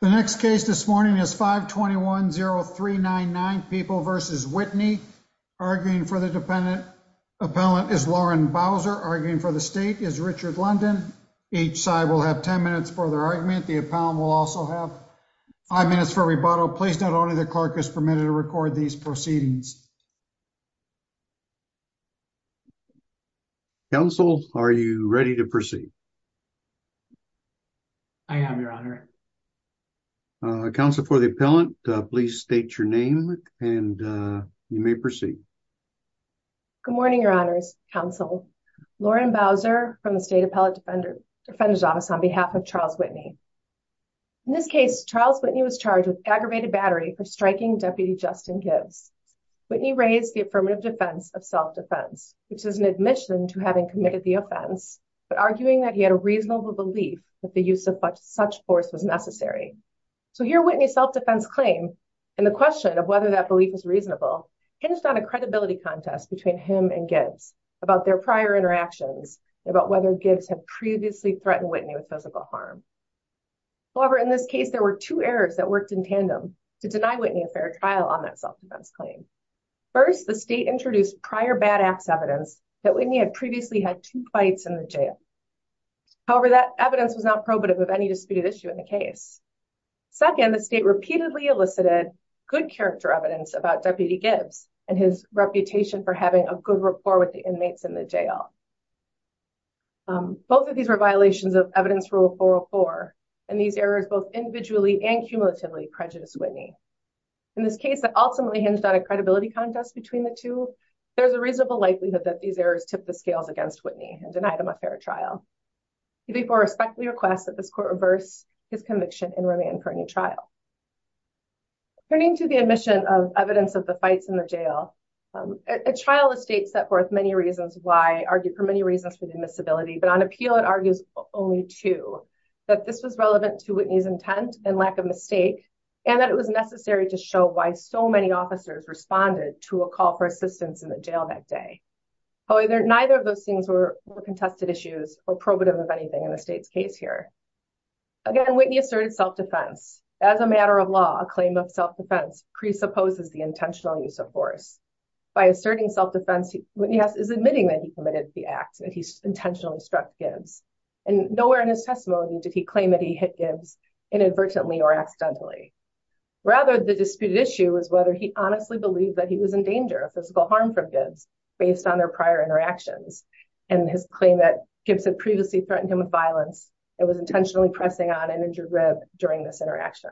The next case this morning is 521-0399 People v. Whitney. Arguing for the dependent appellant is Lauren Bowser. Arguing for the state is Richard London. Each side will have 10 minutes for their argument. The appellant will also have 5 minutes for rebuttal. Please note only the clerk is permitted to record these proceedings. Counsel, are you ready to proceed? I am, Your Honor. Counsel for the appellant, please state your name and you may proceed. Good morning, Your Honors, Counsel. Lauren Bowser from the State Appellant Defender Defender's Office on behalf of Charles Whitney. In this case, Charles Whitney was charged with aggravated battery for striking Deputy Justin Gibbs. Whitney raised the affirmative defense of self-defense, which is an admission to having committed the offense, but arguing that he had a reasonable belief that the use of such force was necessary. So here, Whitney's self-defense claim and the question of whether that belief was reasonable hinged on a credibility contest between him and Gibbs about their prior interactions and about whether Gibbs had previously threatened Whitney with physical harm. However, in this case, there were two errors that worked in tandem to deny Whitney a fair trial on that self-defense claim. First, the state introduced prior bad acts evidence that Whitney had previously had two fights in the jail. However, that evidence was not probative of any disputed issue in the case. Second, the state repeatedly elicited good character evidence about Deputy Gibbs and his reputation for having a good rapport with the inmates in the jail. Both of these were violations of Evidence Rule 404, and these errors both individually and cumulatively prejudiced Whitney. In this case that ultimately hinged on a credibility contest between the two, there's a reasonable likelihood that these errors tipped the scales against Whitney and denied him a fair trial. He therefore respectfully requests that this court reverse his conviction and remand Kearney trial. Turning to the admission of evidence of the fights in the jail, a trial the state set forth many reasons why argued for many reasons for the admissibility, but on appeal it argues only two, that this was relevant to Whitney's intent and lack of mistake, and that it was necessary to show why so many officers responded to a call for assistance in the jail that day. However, neither of those things were contested issues or probative of anything in the state's case here. Again, Whitney asserted self-defense. As a matter of law, a claim of self-defense presupposes the intentional use of force. By asserting self-defense, Whitney is admitting that he committed the acts, that he intentionally struck Gibbs, and nowhere in his testimony did he claim that he hit Gibbs inadvertently or accidentally. Rather, the disputed issue is whether he honestly believed that he was in danger of physical harm from Gibbs based on their prior interactions and his claim that Gibbs had previously threatened him with violence and was intentionally pressing on an injured rib during this interaction.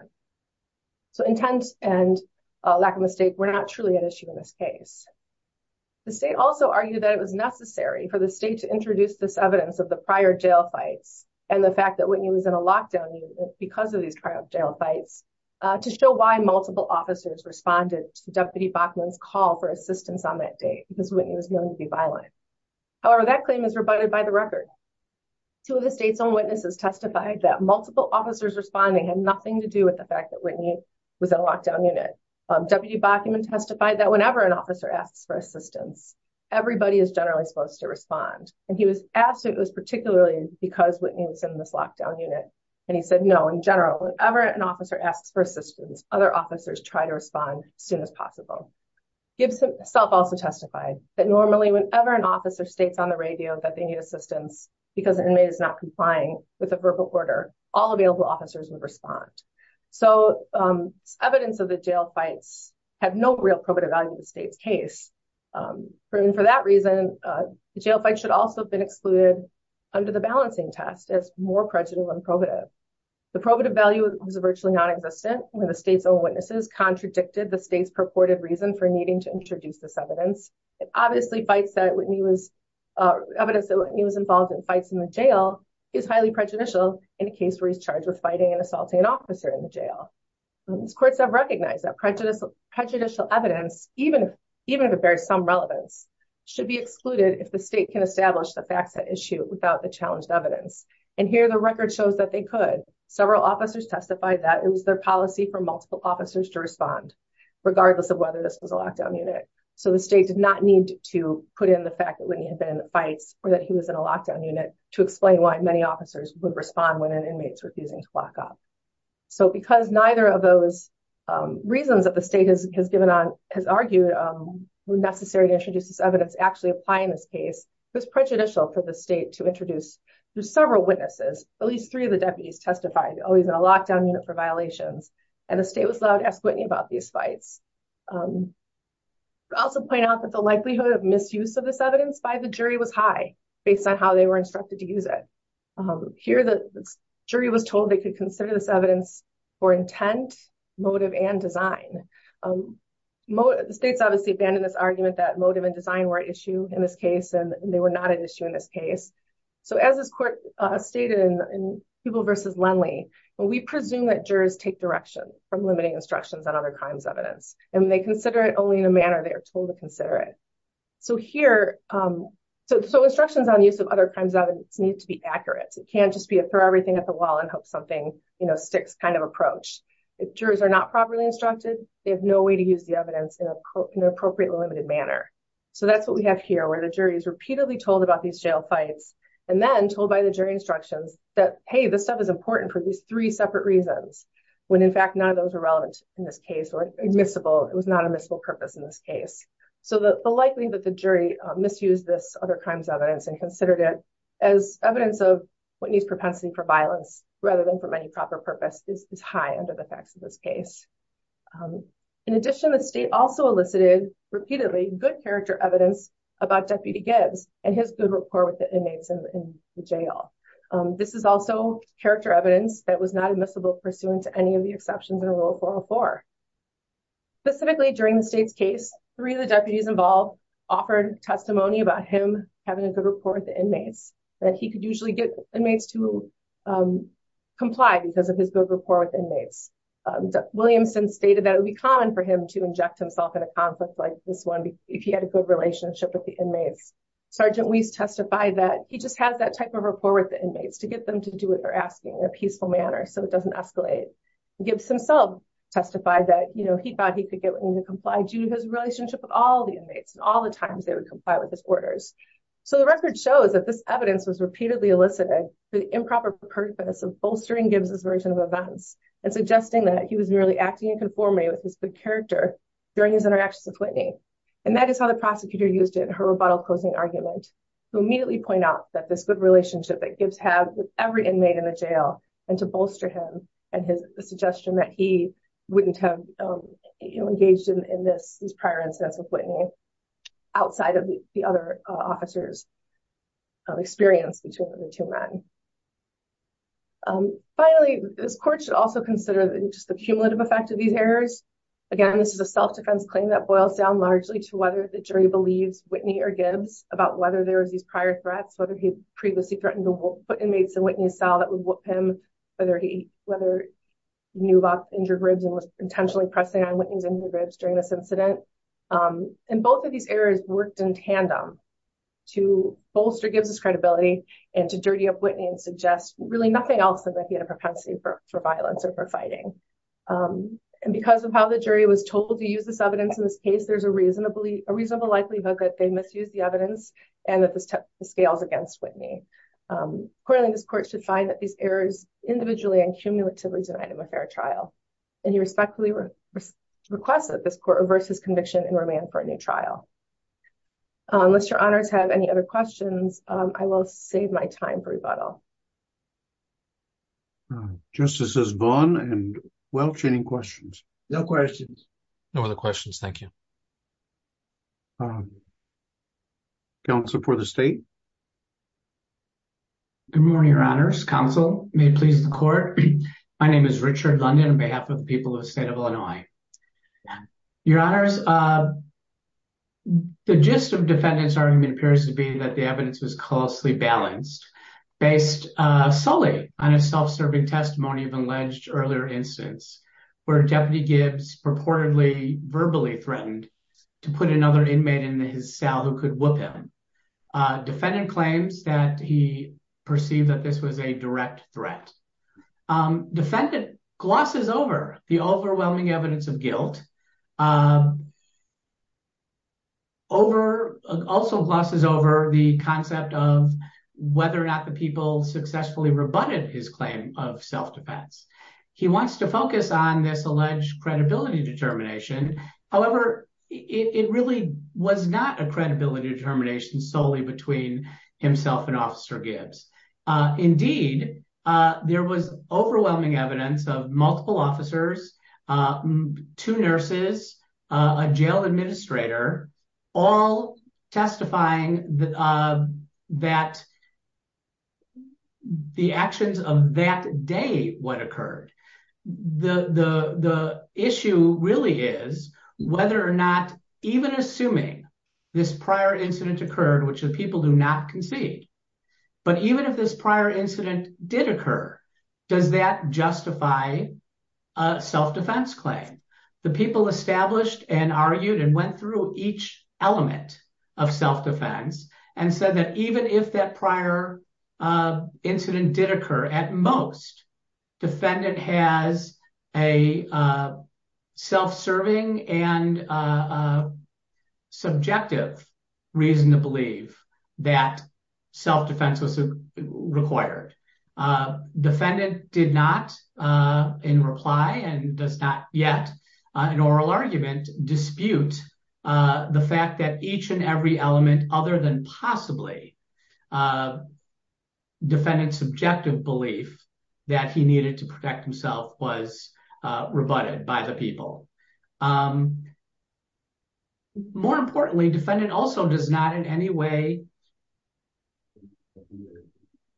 So, intent and lack of mistake were not truly an issue in this case. The state also argued that it was and the fact that Whitney was in a lockdown unit because of these trial jail fights to show why multiple officers responded to Deputy Bachman's call for assistance on that date because Whitney was willing to be violent. However, that claim is rebutted by the record. Two of the state's own witnesses testified that multiple officers responding had nothing to do with the fact that Whitney was in a lockdown unit. Deputy Bachman testified that whenever an officer asks for assistance, other officers try to respond as soon as possible. Gibbs himself also testified that normally whenever an officer states on the radio that they need assistance because an inmate is not complying with a verbal order, all available officers would respond. So, evidence of the jail fights have no real probative value in the state's case. For that reason, the jail fight should also have been excluded under the balancing test as more prejudicial and probative. The probative value was virtually nonexistent when the state's own witnesses contradicted the state's purported reason for needing to introduce this evidence. It obviously fights that Whitney was, evidence that Whitney was involved in fights in the jail is highly prejudicial in a case where he's charged with fighting and assaulting an officer in the jail. These courts have recognized that prejudicial evidence, even if it bears some relevance, should be excluded if the state can establish the facts at issue without the challenged evidence. And here the record shows that they could. Several officers testified that it was their policy for multiple officers to respond, regardless of whether this was a lockdown unit. So, the state did not need to put in the fact that Whitney had been in fights or that he was in a lockdown unit to explain why many officers would respond when an inmate's has argued it was necessary to introduce this evidence actually applying this case. It was prejudicial for the state to introduce through several witnesses, at least three of the deputies testified, oh, he's in a lockdown unit for violations. And the state was allowed to ask Whitney about these fights. Also point out that the likelihood of misuse of this evidence by the jury was high based on how they were instructed to use it. Here the jury was told they could consider this evidence for intent, motive, and design. The state's obviously abandoned this argument that motive and design were at issue in this case, and they were not at issue in this case. So, as this court stated in Peeble v. Lenly, we presume that jurors take direction from limiting instructions on other crimes evidence. And when they consider it only in a manner they are told to consider it. So here, so instructions on use of other crimes evidence need to be accurate. It can't just be a throw everything at the wall and hope something sticks kind of approach. If jurors are not properly instructed, they have no way to use the evidence in an appropriately limited manner. So that's what we have here, where the jury is repeatedly told about these jail fights, and then told by the jury instructions that, hey, this stuff is important for at least three separate reasons, when in fact none of those are relevant in this case or admissible. It was not admissible purpose in this case. So the likelihood that the jury misused this other crimes evidence and considered it as evidence of Whitney's propensity for violence, rather than for many proper purpose is high under the facts of this case. In addition, the state also elicited repeatedly good character evidence about Deputy Gibbs and his good rapport with the inmates in the jail. This is also character evidence that was not admissible pursuant to any of the exceptions in Rule 404. Specifically during the state's case, three of the deputies involved offered testimony about him having a good rapport with the inmates that he could usually get inmates to comply because of his good rapport with inmates. Williamson stated that it would be common for him to inject himself in a conflict like this one, if he had a good relationship with the inmates. Sergeant Weiss testified that he just has that type of rapport with the inmates to get them to do what they're asking in a peaceful manner, so it doesn't escalate. Gibbs himself testified that, you know, he thought he could get them to comply due to his relationship with all the inmates and all the times they would comply with his orders. So the record shows that this evidence was repeatedly elicited for the improper purpose of bolstering Gibbs' version of events and suggesting that he was merely acting in conformity with his good character during his interactions with Whitney. And that is how the prosecutor used it in her rebuttal closing argument, to immediately point out that this good relationship that Gibbs had with every inmate in the jail and to bolster him and his suggestion that he wouldn't have engaged in this prior instance with Whitney outside of the other officer's experience between the two men. Finally, this court should also consider just the cumulative effect of these errors. Again, this is a self-defense claim that boils down largely to whether the jury believes Whitney or Gibbs about whether there was these prior threats, whether he had previously threatened to put inmates in Whitney's cell that would whoop him, whether he knew about injured ribs and was intentionally pressing on Whitney's injured ribs during this incident. And both of these errors worked in tandem to bolster Gibbs' credibility and to dirty up Whitney and suggest really nothing else than that he had a propensity for violence or for fighting. And because of how the jury was told to use this evidence in this case, there's a reasonable likelihood that they misused the evidence and that this scales against Whitney. Accordingly, this court should find that these errors individually and cumulatively denied him a fair trial. And he respectfully requested that this court reverse his conviction and remand for a new trial. Unless your honors have any other questions, I will save my time for rebuttal. Justice has gone and welch any questions? No questions. No other questions. Thank you. Good morning, your honors. Counsel, may it please the court. My name is Richard London on behalf of the people of the state of Illinois. Your honors, the gist of defendant's argument appears to be that the evidence was closely balanced based solely on a self-serving testimony of alleged earlier instance where Deputy Gibbs purportedly verbally threatened to put another inmate in his cell who could whoop him. Defendant claims that he perceived that this was a direct threat. Defendant glosses over the overwhelming evidence of guilt, also glosses over the concept of whether or not the people successfully rebutted his claim of self-defense. He wants to focus on this alleged credibility determination. However, it really was not a credibility determination solely between himself and Officer Gibbs. Indeed, there was overwhelming evidence of multiple officers, two nurses, a jail administrator, all testifying that the actions of that day would occur. The issue really is whether or not, even assuming this prior incident occurred, which the people do not concede, but even if this prior incident did occur, does that justify a self-defense claim? The people established and argued and went through each element of self-defense and said that even if that prior incident did occur, at most, defendant has a self-serving and subjective reason to dispute the fact that each and every element other than possibly defendant's subjective belief that he needed to protect himself was rebutted by the people. More importantly, defendant also does not in any way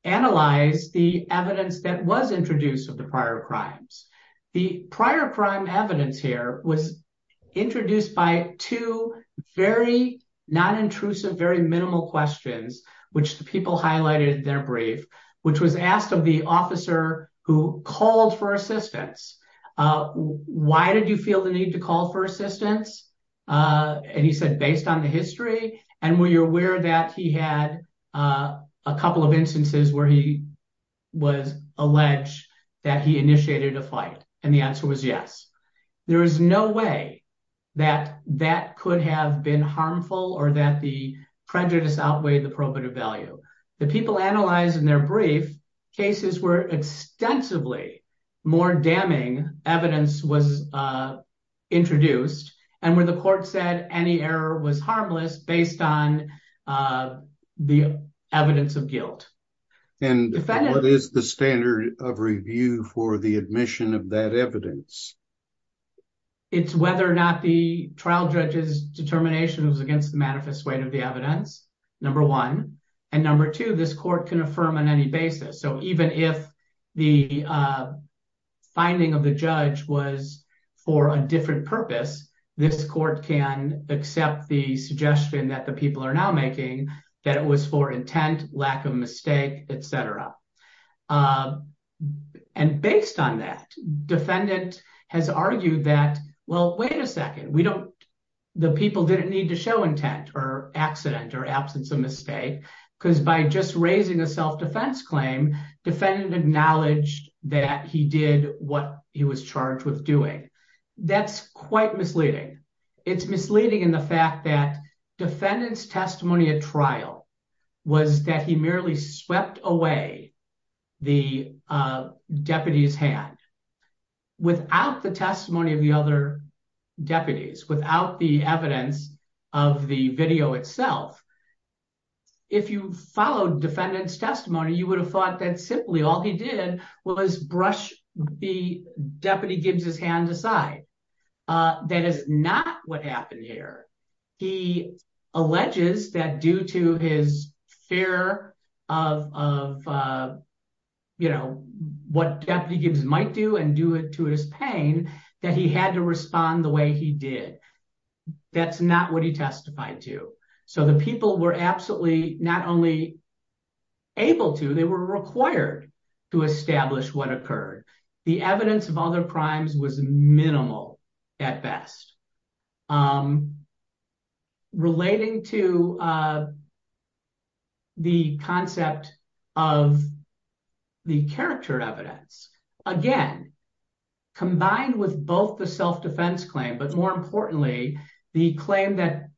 analyze the evidence that was introduced of the prior crimes. The prior crime evidence here was introduced by two very non-intrusive, very minimal questions, which the people highlighted in their brief, which was asked of the officer who called for assistance. Why did you feel the need to call for assistance? He said, based on the history. Were you aware that he had a couple of instances where he was alleged that he initiated a fight? The answer was yes. There is no way that that could have been harmful or that the prejudice outweighed the probative value. The people analyzed in their brief cases where extensively more damning evidence was introduced and where the court said any error was harmless based on the evidence of guilt. And what is the standard of review for the admission of that evidence? It's whether or not the trial judge's determination was against the manifest weight of the evidence, number one. And number two, this court can affirm on any basis. So even if the finding of the judge was for a different purpose, this court can accept the suggestion that the people are now making that it was for intent, lack of mistake, etc. And based on that, defendant has argued that, well, wait a second, we don't, the people didn't need to show intent or accident or absence of mistake because by just raising a self-defense claim, defendant acknowledged that he did what he was charged with doing. That's quite misleading. It's misleading in the fact that defendant's testimony at trial was that he merely swept away the deputy's hand without the testimony of the other deputies, without the evidence of the video itself. If you followed defendant's testimony, you would have thought that simply all he did was brush the deputy Gibbs's hand aside. That is not what happened here. He alleges that due to his fear of what deputy Gibbs might do and do it to his pain, that he had to respond the way he did. That's not what he testified to. So the people were absolutely not only able to, they were required to establish what occurred. The evidence of other crimes was minimal at best. Relating to the concept of the character evidence, again, combined with both the self-defense claim, but more importantly, the claim that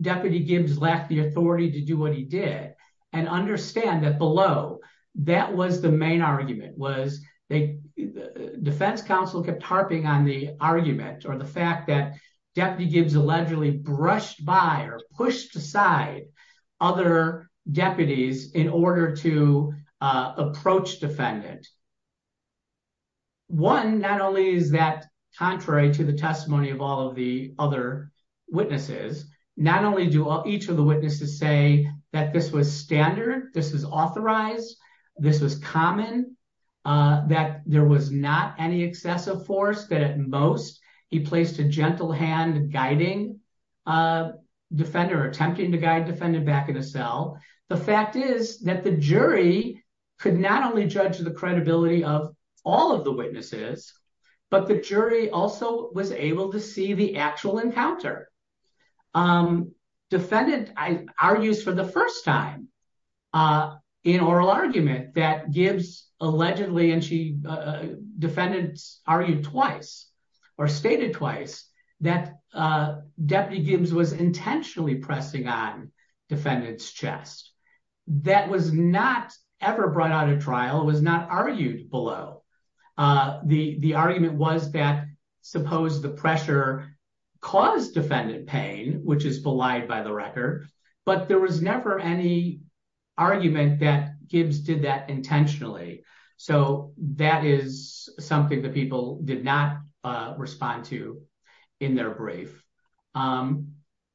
deputy Gibbs lacked the authority to do what he did and understand that below, that was the main argument. Defense counsel kept harping on the argument or the fact that deputy Gibbs allegedly brushed by or pushed aside other deputies in order to approach defendant. One, not only is that contrary to the testimony of all of the other witnesses, not only do each of the witnesses say that this was standard, this was authorized, this was common, that there was not any excessive force, that at most he placed a gentle hand guiding defender, attempting to guide defendant back in a cell. The fact is that the jury could not only judge the credibility of all of the witnesses, but the jury also was able to see the actual encounter. Defendant argues for the first time in oral argument that Gibbs allegedly, and defendants argued twice or stated twice, that deputy Gibbs was intentionally pressing on defendant's chest. That was not ever brought out of trial, was not argued below. The argument was that suppose the pressure caused defendant pain, which is belied by the record, but there was never any argument that Gibbs did that intentionally. So that is something that people did not respond to in their brief.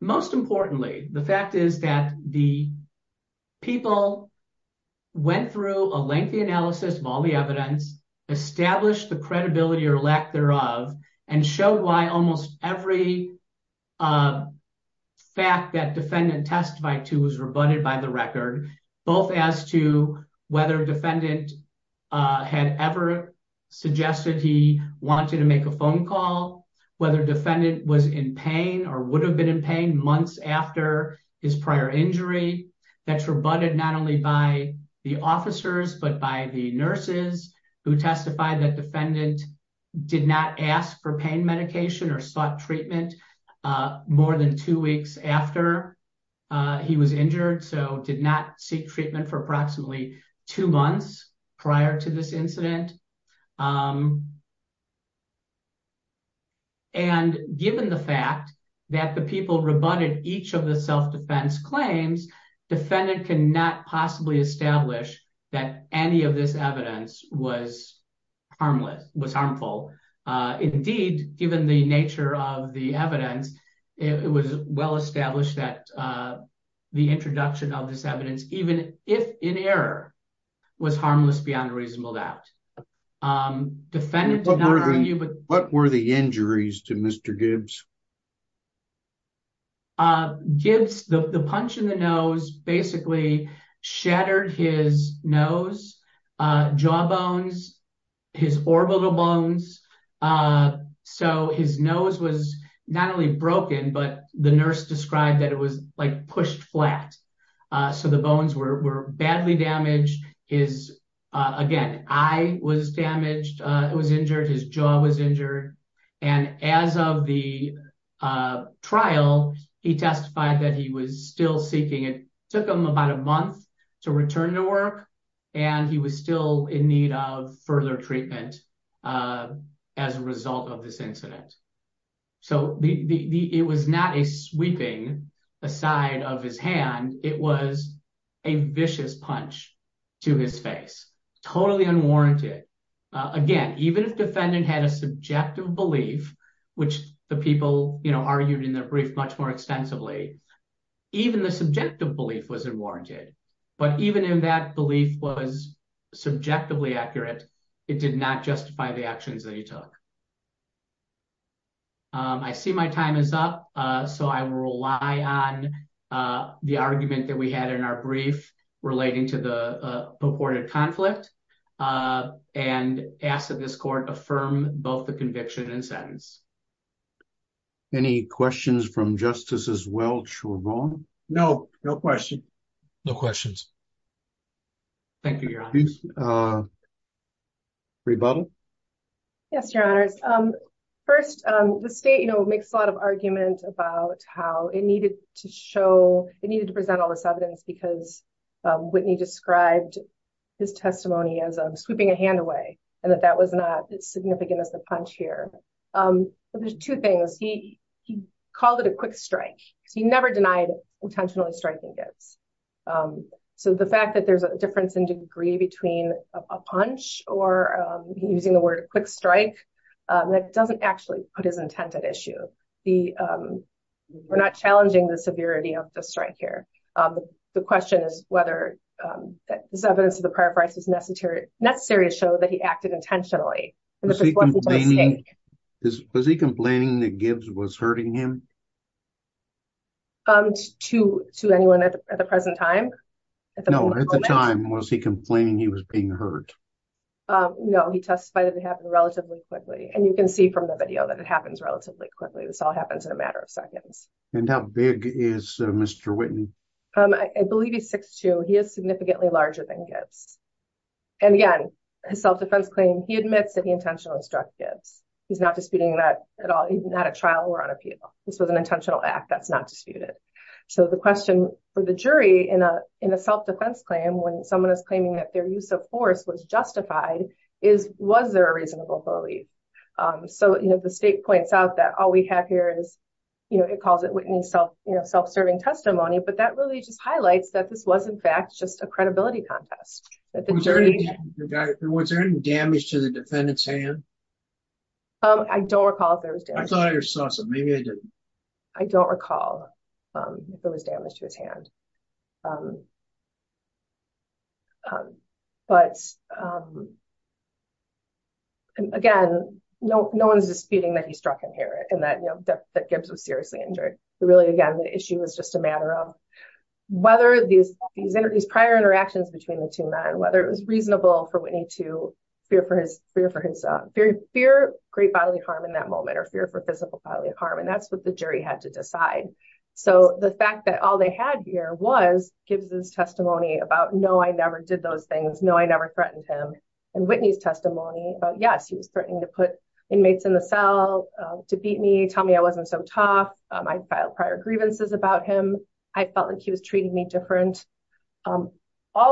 Most importantly, the fact is that the people went through a lengthy analysis of all of the evidence, established the credibility or lack thereof, and showed why almost every fact that defendant testified to was rebutted by the record, both as to whether defendant had ever suggested he wanted to make a phone call, whether defendant was in pain or would have been in pain months after his prior injury. That's rebutted not only by the officers, but by the nurses who testified that defendant did not ask for pain medication or sought treatment more than two weeks after he was injured, so did not seek treatment for approximately two months prior to this incident. And given the fact that the people rebutted each of the evidence was harmful, indeed, given the nature of the evidence, it was well established that the introduction of this evidence, even if in error, was harmless beyond reasonable doubt. What were the injuries to Mr. Gibbs? Gibbs, the punch in the nose, basically shattered his nose, jaw bones, his orbital bones. So his nose was not only broken, but the nurse described that it was like pushed flat. So the bones were badly damaged. His, again, eye was damaged, it was injured, his jaw was injured. And as of the trial, he testified that he was still seeking, it took him about a month to return to work, and he was still in need of further treatment as a result of this incident. So it was not a sweeping aside of his hand, it was a vicious punch to his face, totally unwarranted. Again, even if defendant had a subjective belief, which the people, you know, argued in their brief much more extensively, even the subjective belief was unwarranted. But even if that belief was subjectively accurate, it did not justify the actions that he took. I see my time is up. So I will rely on the argument that we had in our conflict, and ask that this court affirm both the conviction and sentence. Any questions from Justices Welch or Bowen? No, no question. No questions. Thank you, Your Honor. Rebuttal? Yes, Your Honors. First, the state, you know, makes a lot of argument about how it needed to sweeping a hand away, and that that was not as significant as the punch here. But there's two things. He called it a quick strike. He never denied intentionally striking it. So the fact that there's a difference in degree between a punch or using the word quick strike, that doesn't actually put his intent at issue. We're not challenging the severity of the strike here. The question is whether this evidence of the prior price is necessary to show that he acted intentionally. Was he complaining that Gibbs was hurting him? To anyone at the present time? No, at the time, was he complaining he was being hurt? No, he testified that it happened relatively quickly. And you can see from the video that And how big is Mr. Whitney? I believe he's 6'2". He is significantly larger than Gibbs. And again, his self-defense claim, he admits that he intentionally struck Gibbs. He's not disputing that at all. He's not at trial or on appeal. This was an intentional act. That's not disputed. So the question for the jury in a self-defense claim, when someone is claiming that their use of force was justified, is was there a reasonable belief? So, you know, the self-serving testimony, but that really just highlights that this was, in fact, just a credibility contest. Was there any damage to the defendant's hand? I don't recall if there was damage. I thought I saw something. Maybe I didn't. I don't recall if there was damage to his hand. But again, no one's disputing that he struck him here and that Gibbs was seriously injured. Again, the issue was just a matter of whether these prior interactions between the two men, whether it was reasonable for Whitney to fear great bodily harm in that moment or fear for physical bodily harm. And that's what the jury had to decide. So the fact that all they had here was Gibbs' testimony about, no, I never did those things. No, I never threatened him. And Whitney's testimony about, yes, he was threatening to put inmates in the cell to beat me, tell me I wasn't so tough. I filed prior grievances about him. I felt like he was treating me different. All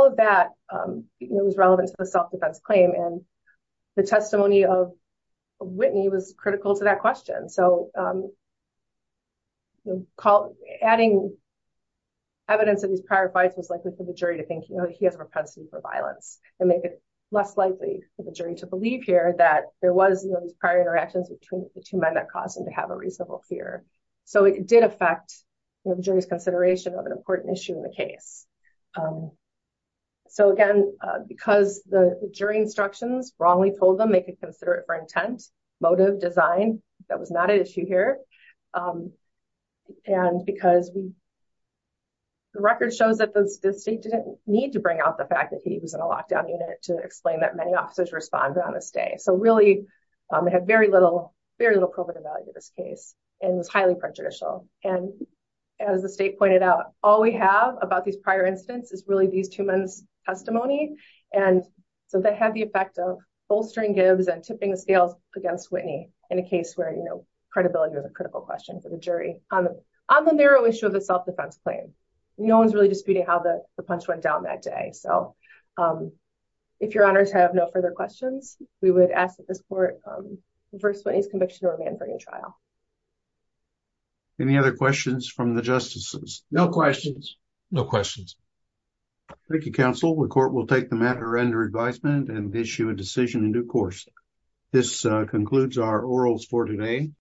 of that was relevant to the self-defense claim. And the testimony of Whitney was critical to that question. So adding evidence of these prior fights was likely for the jury to think he has a propensity for violence and make it less likely for the jury to believe here that there was these interactions between the two men that caused him to have a reasonable fear. So it did affect the jury's consideration of an important issue in the case. So again, because the jury instructions wrongly told them they could consider it for intent, motive, design, that was not an issue here. And because the record shows that the state didn't need to bring out the fact that he was in a lockdown unit to explain that many officers responded on this day. So really it had very little proven value to this case and was highly prejudicial. And as the state pointed out, all we have about these prior incidents is really these two men's testimony. And so that had the effect of bolstering Gibbs and tipping the scales against Whitney in a case where credibility was a critical question for the jury. On the narrow issue of the self-defense claim, no one's really disputing how the punch went down that day. So if your questions, we would ask that this court reverse Whitney's conviction or remand her in trial. Any other questions from the justices? No questions. No questions. Thank you, counsel. The court will take the matter under advisement and issue a decision in due course. This concludes our orals for today.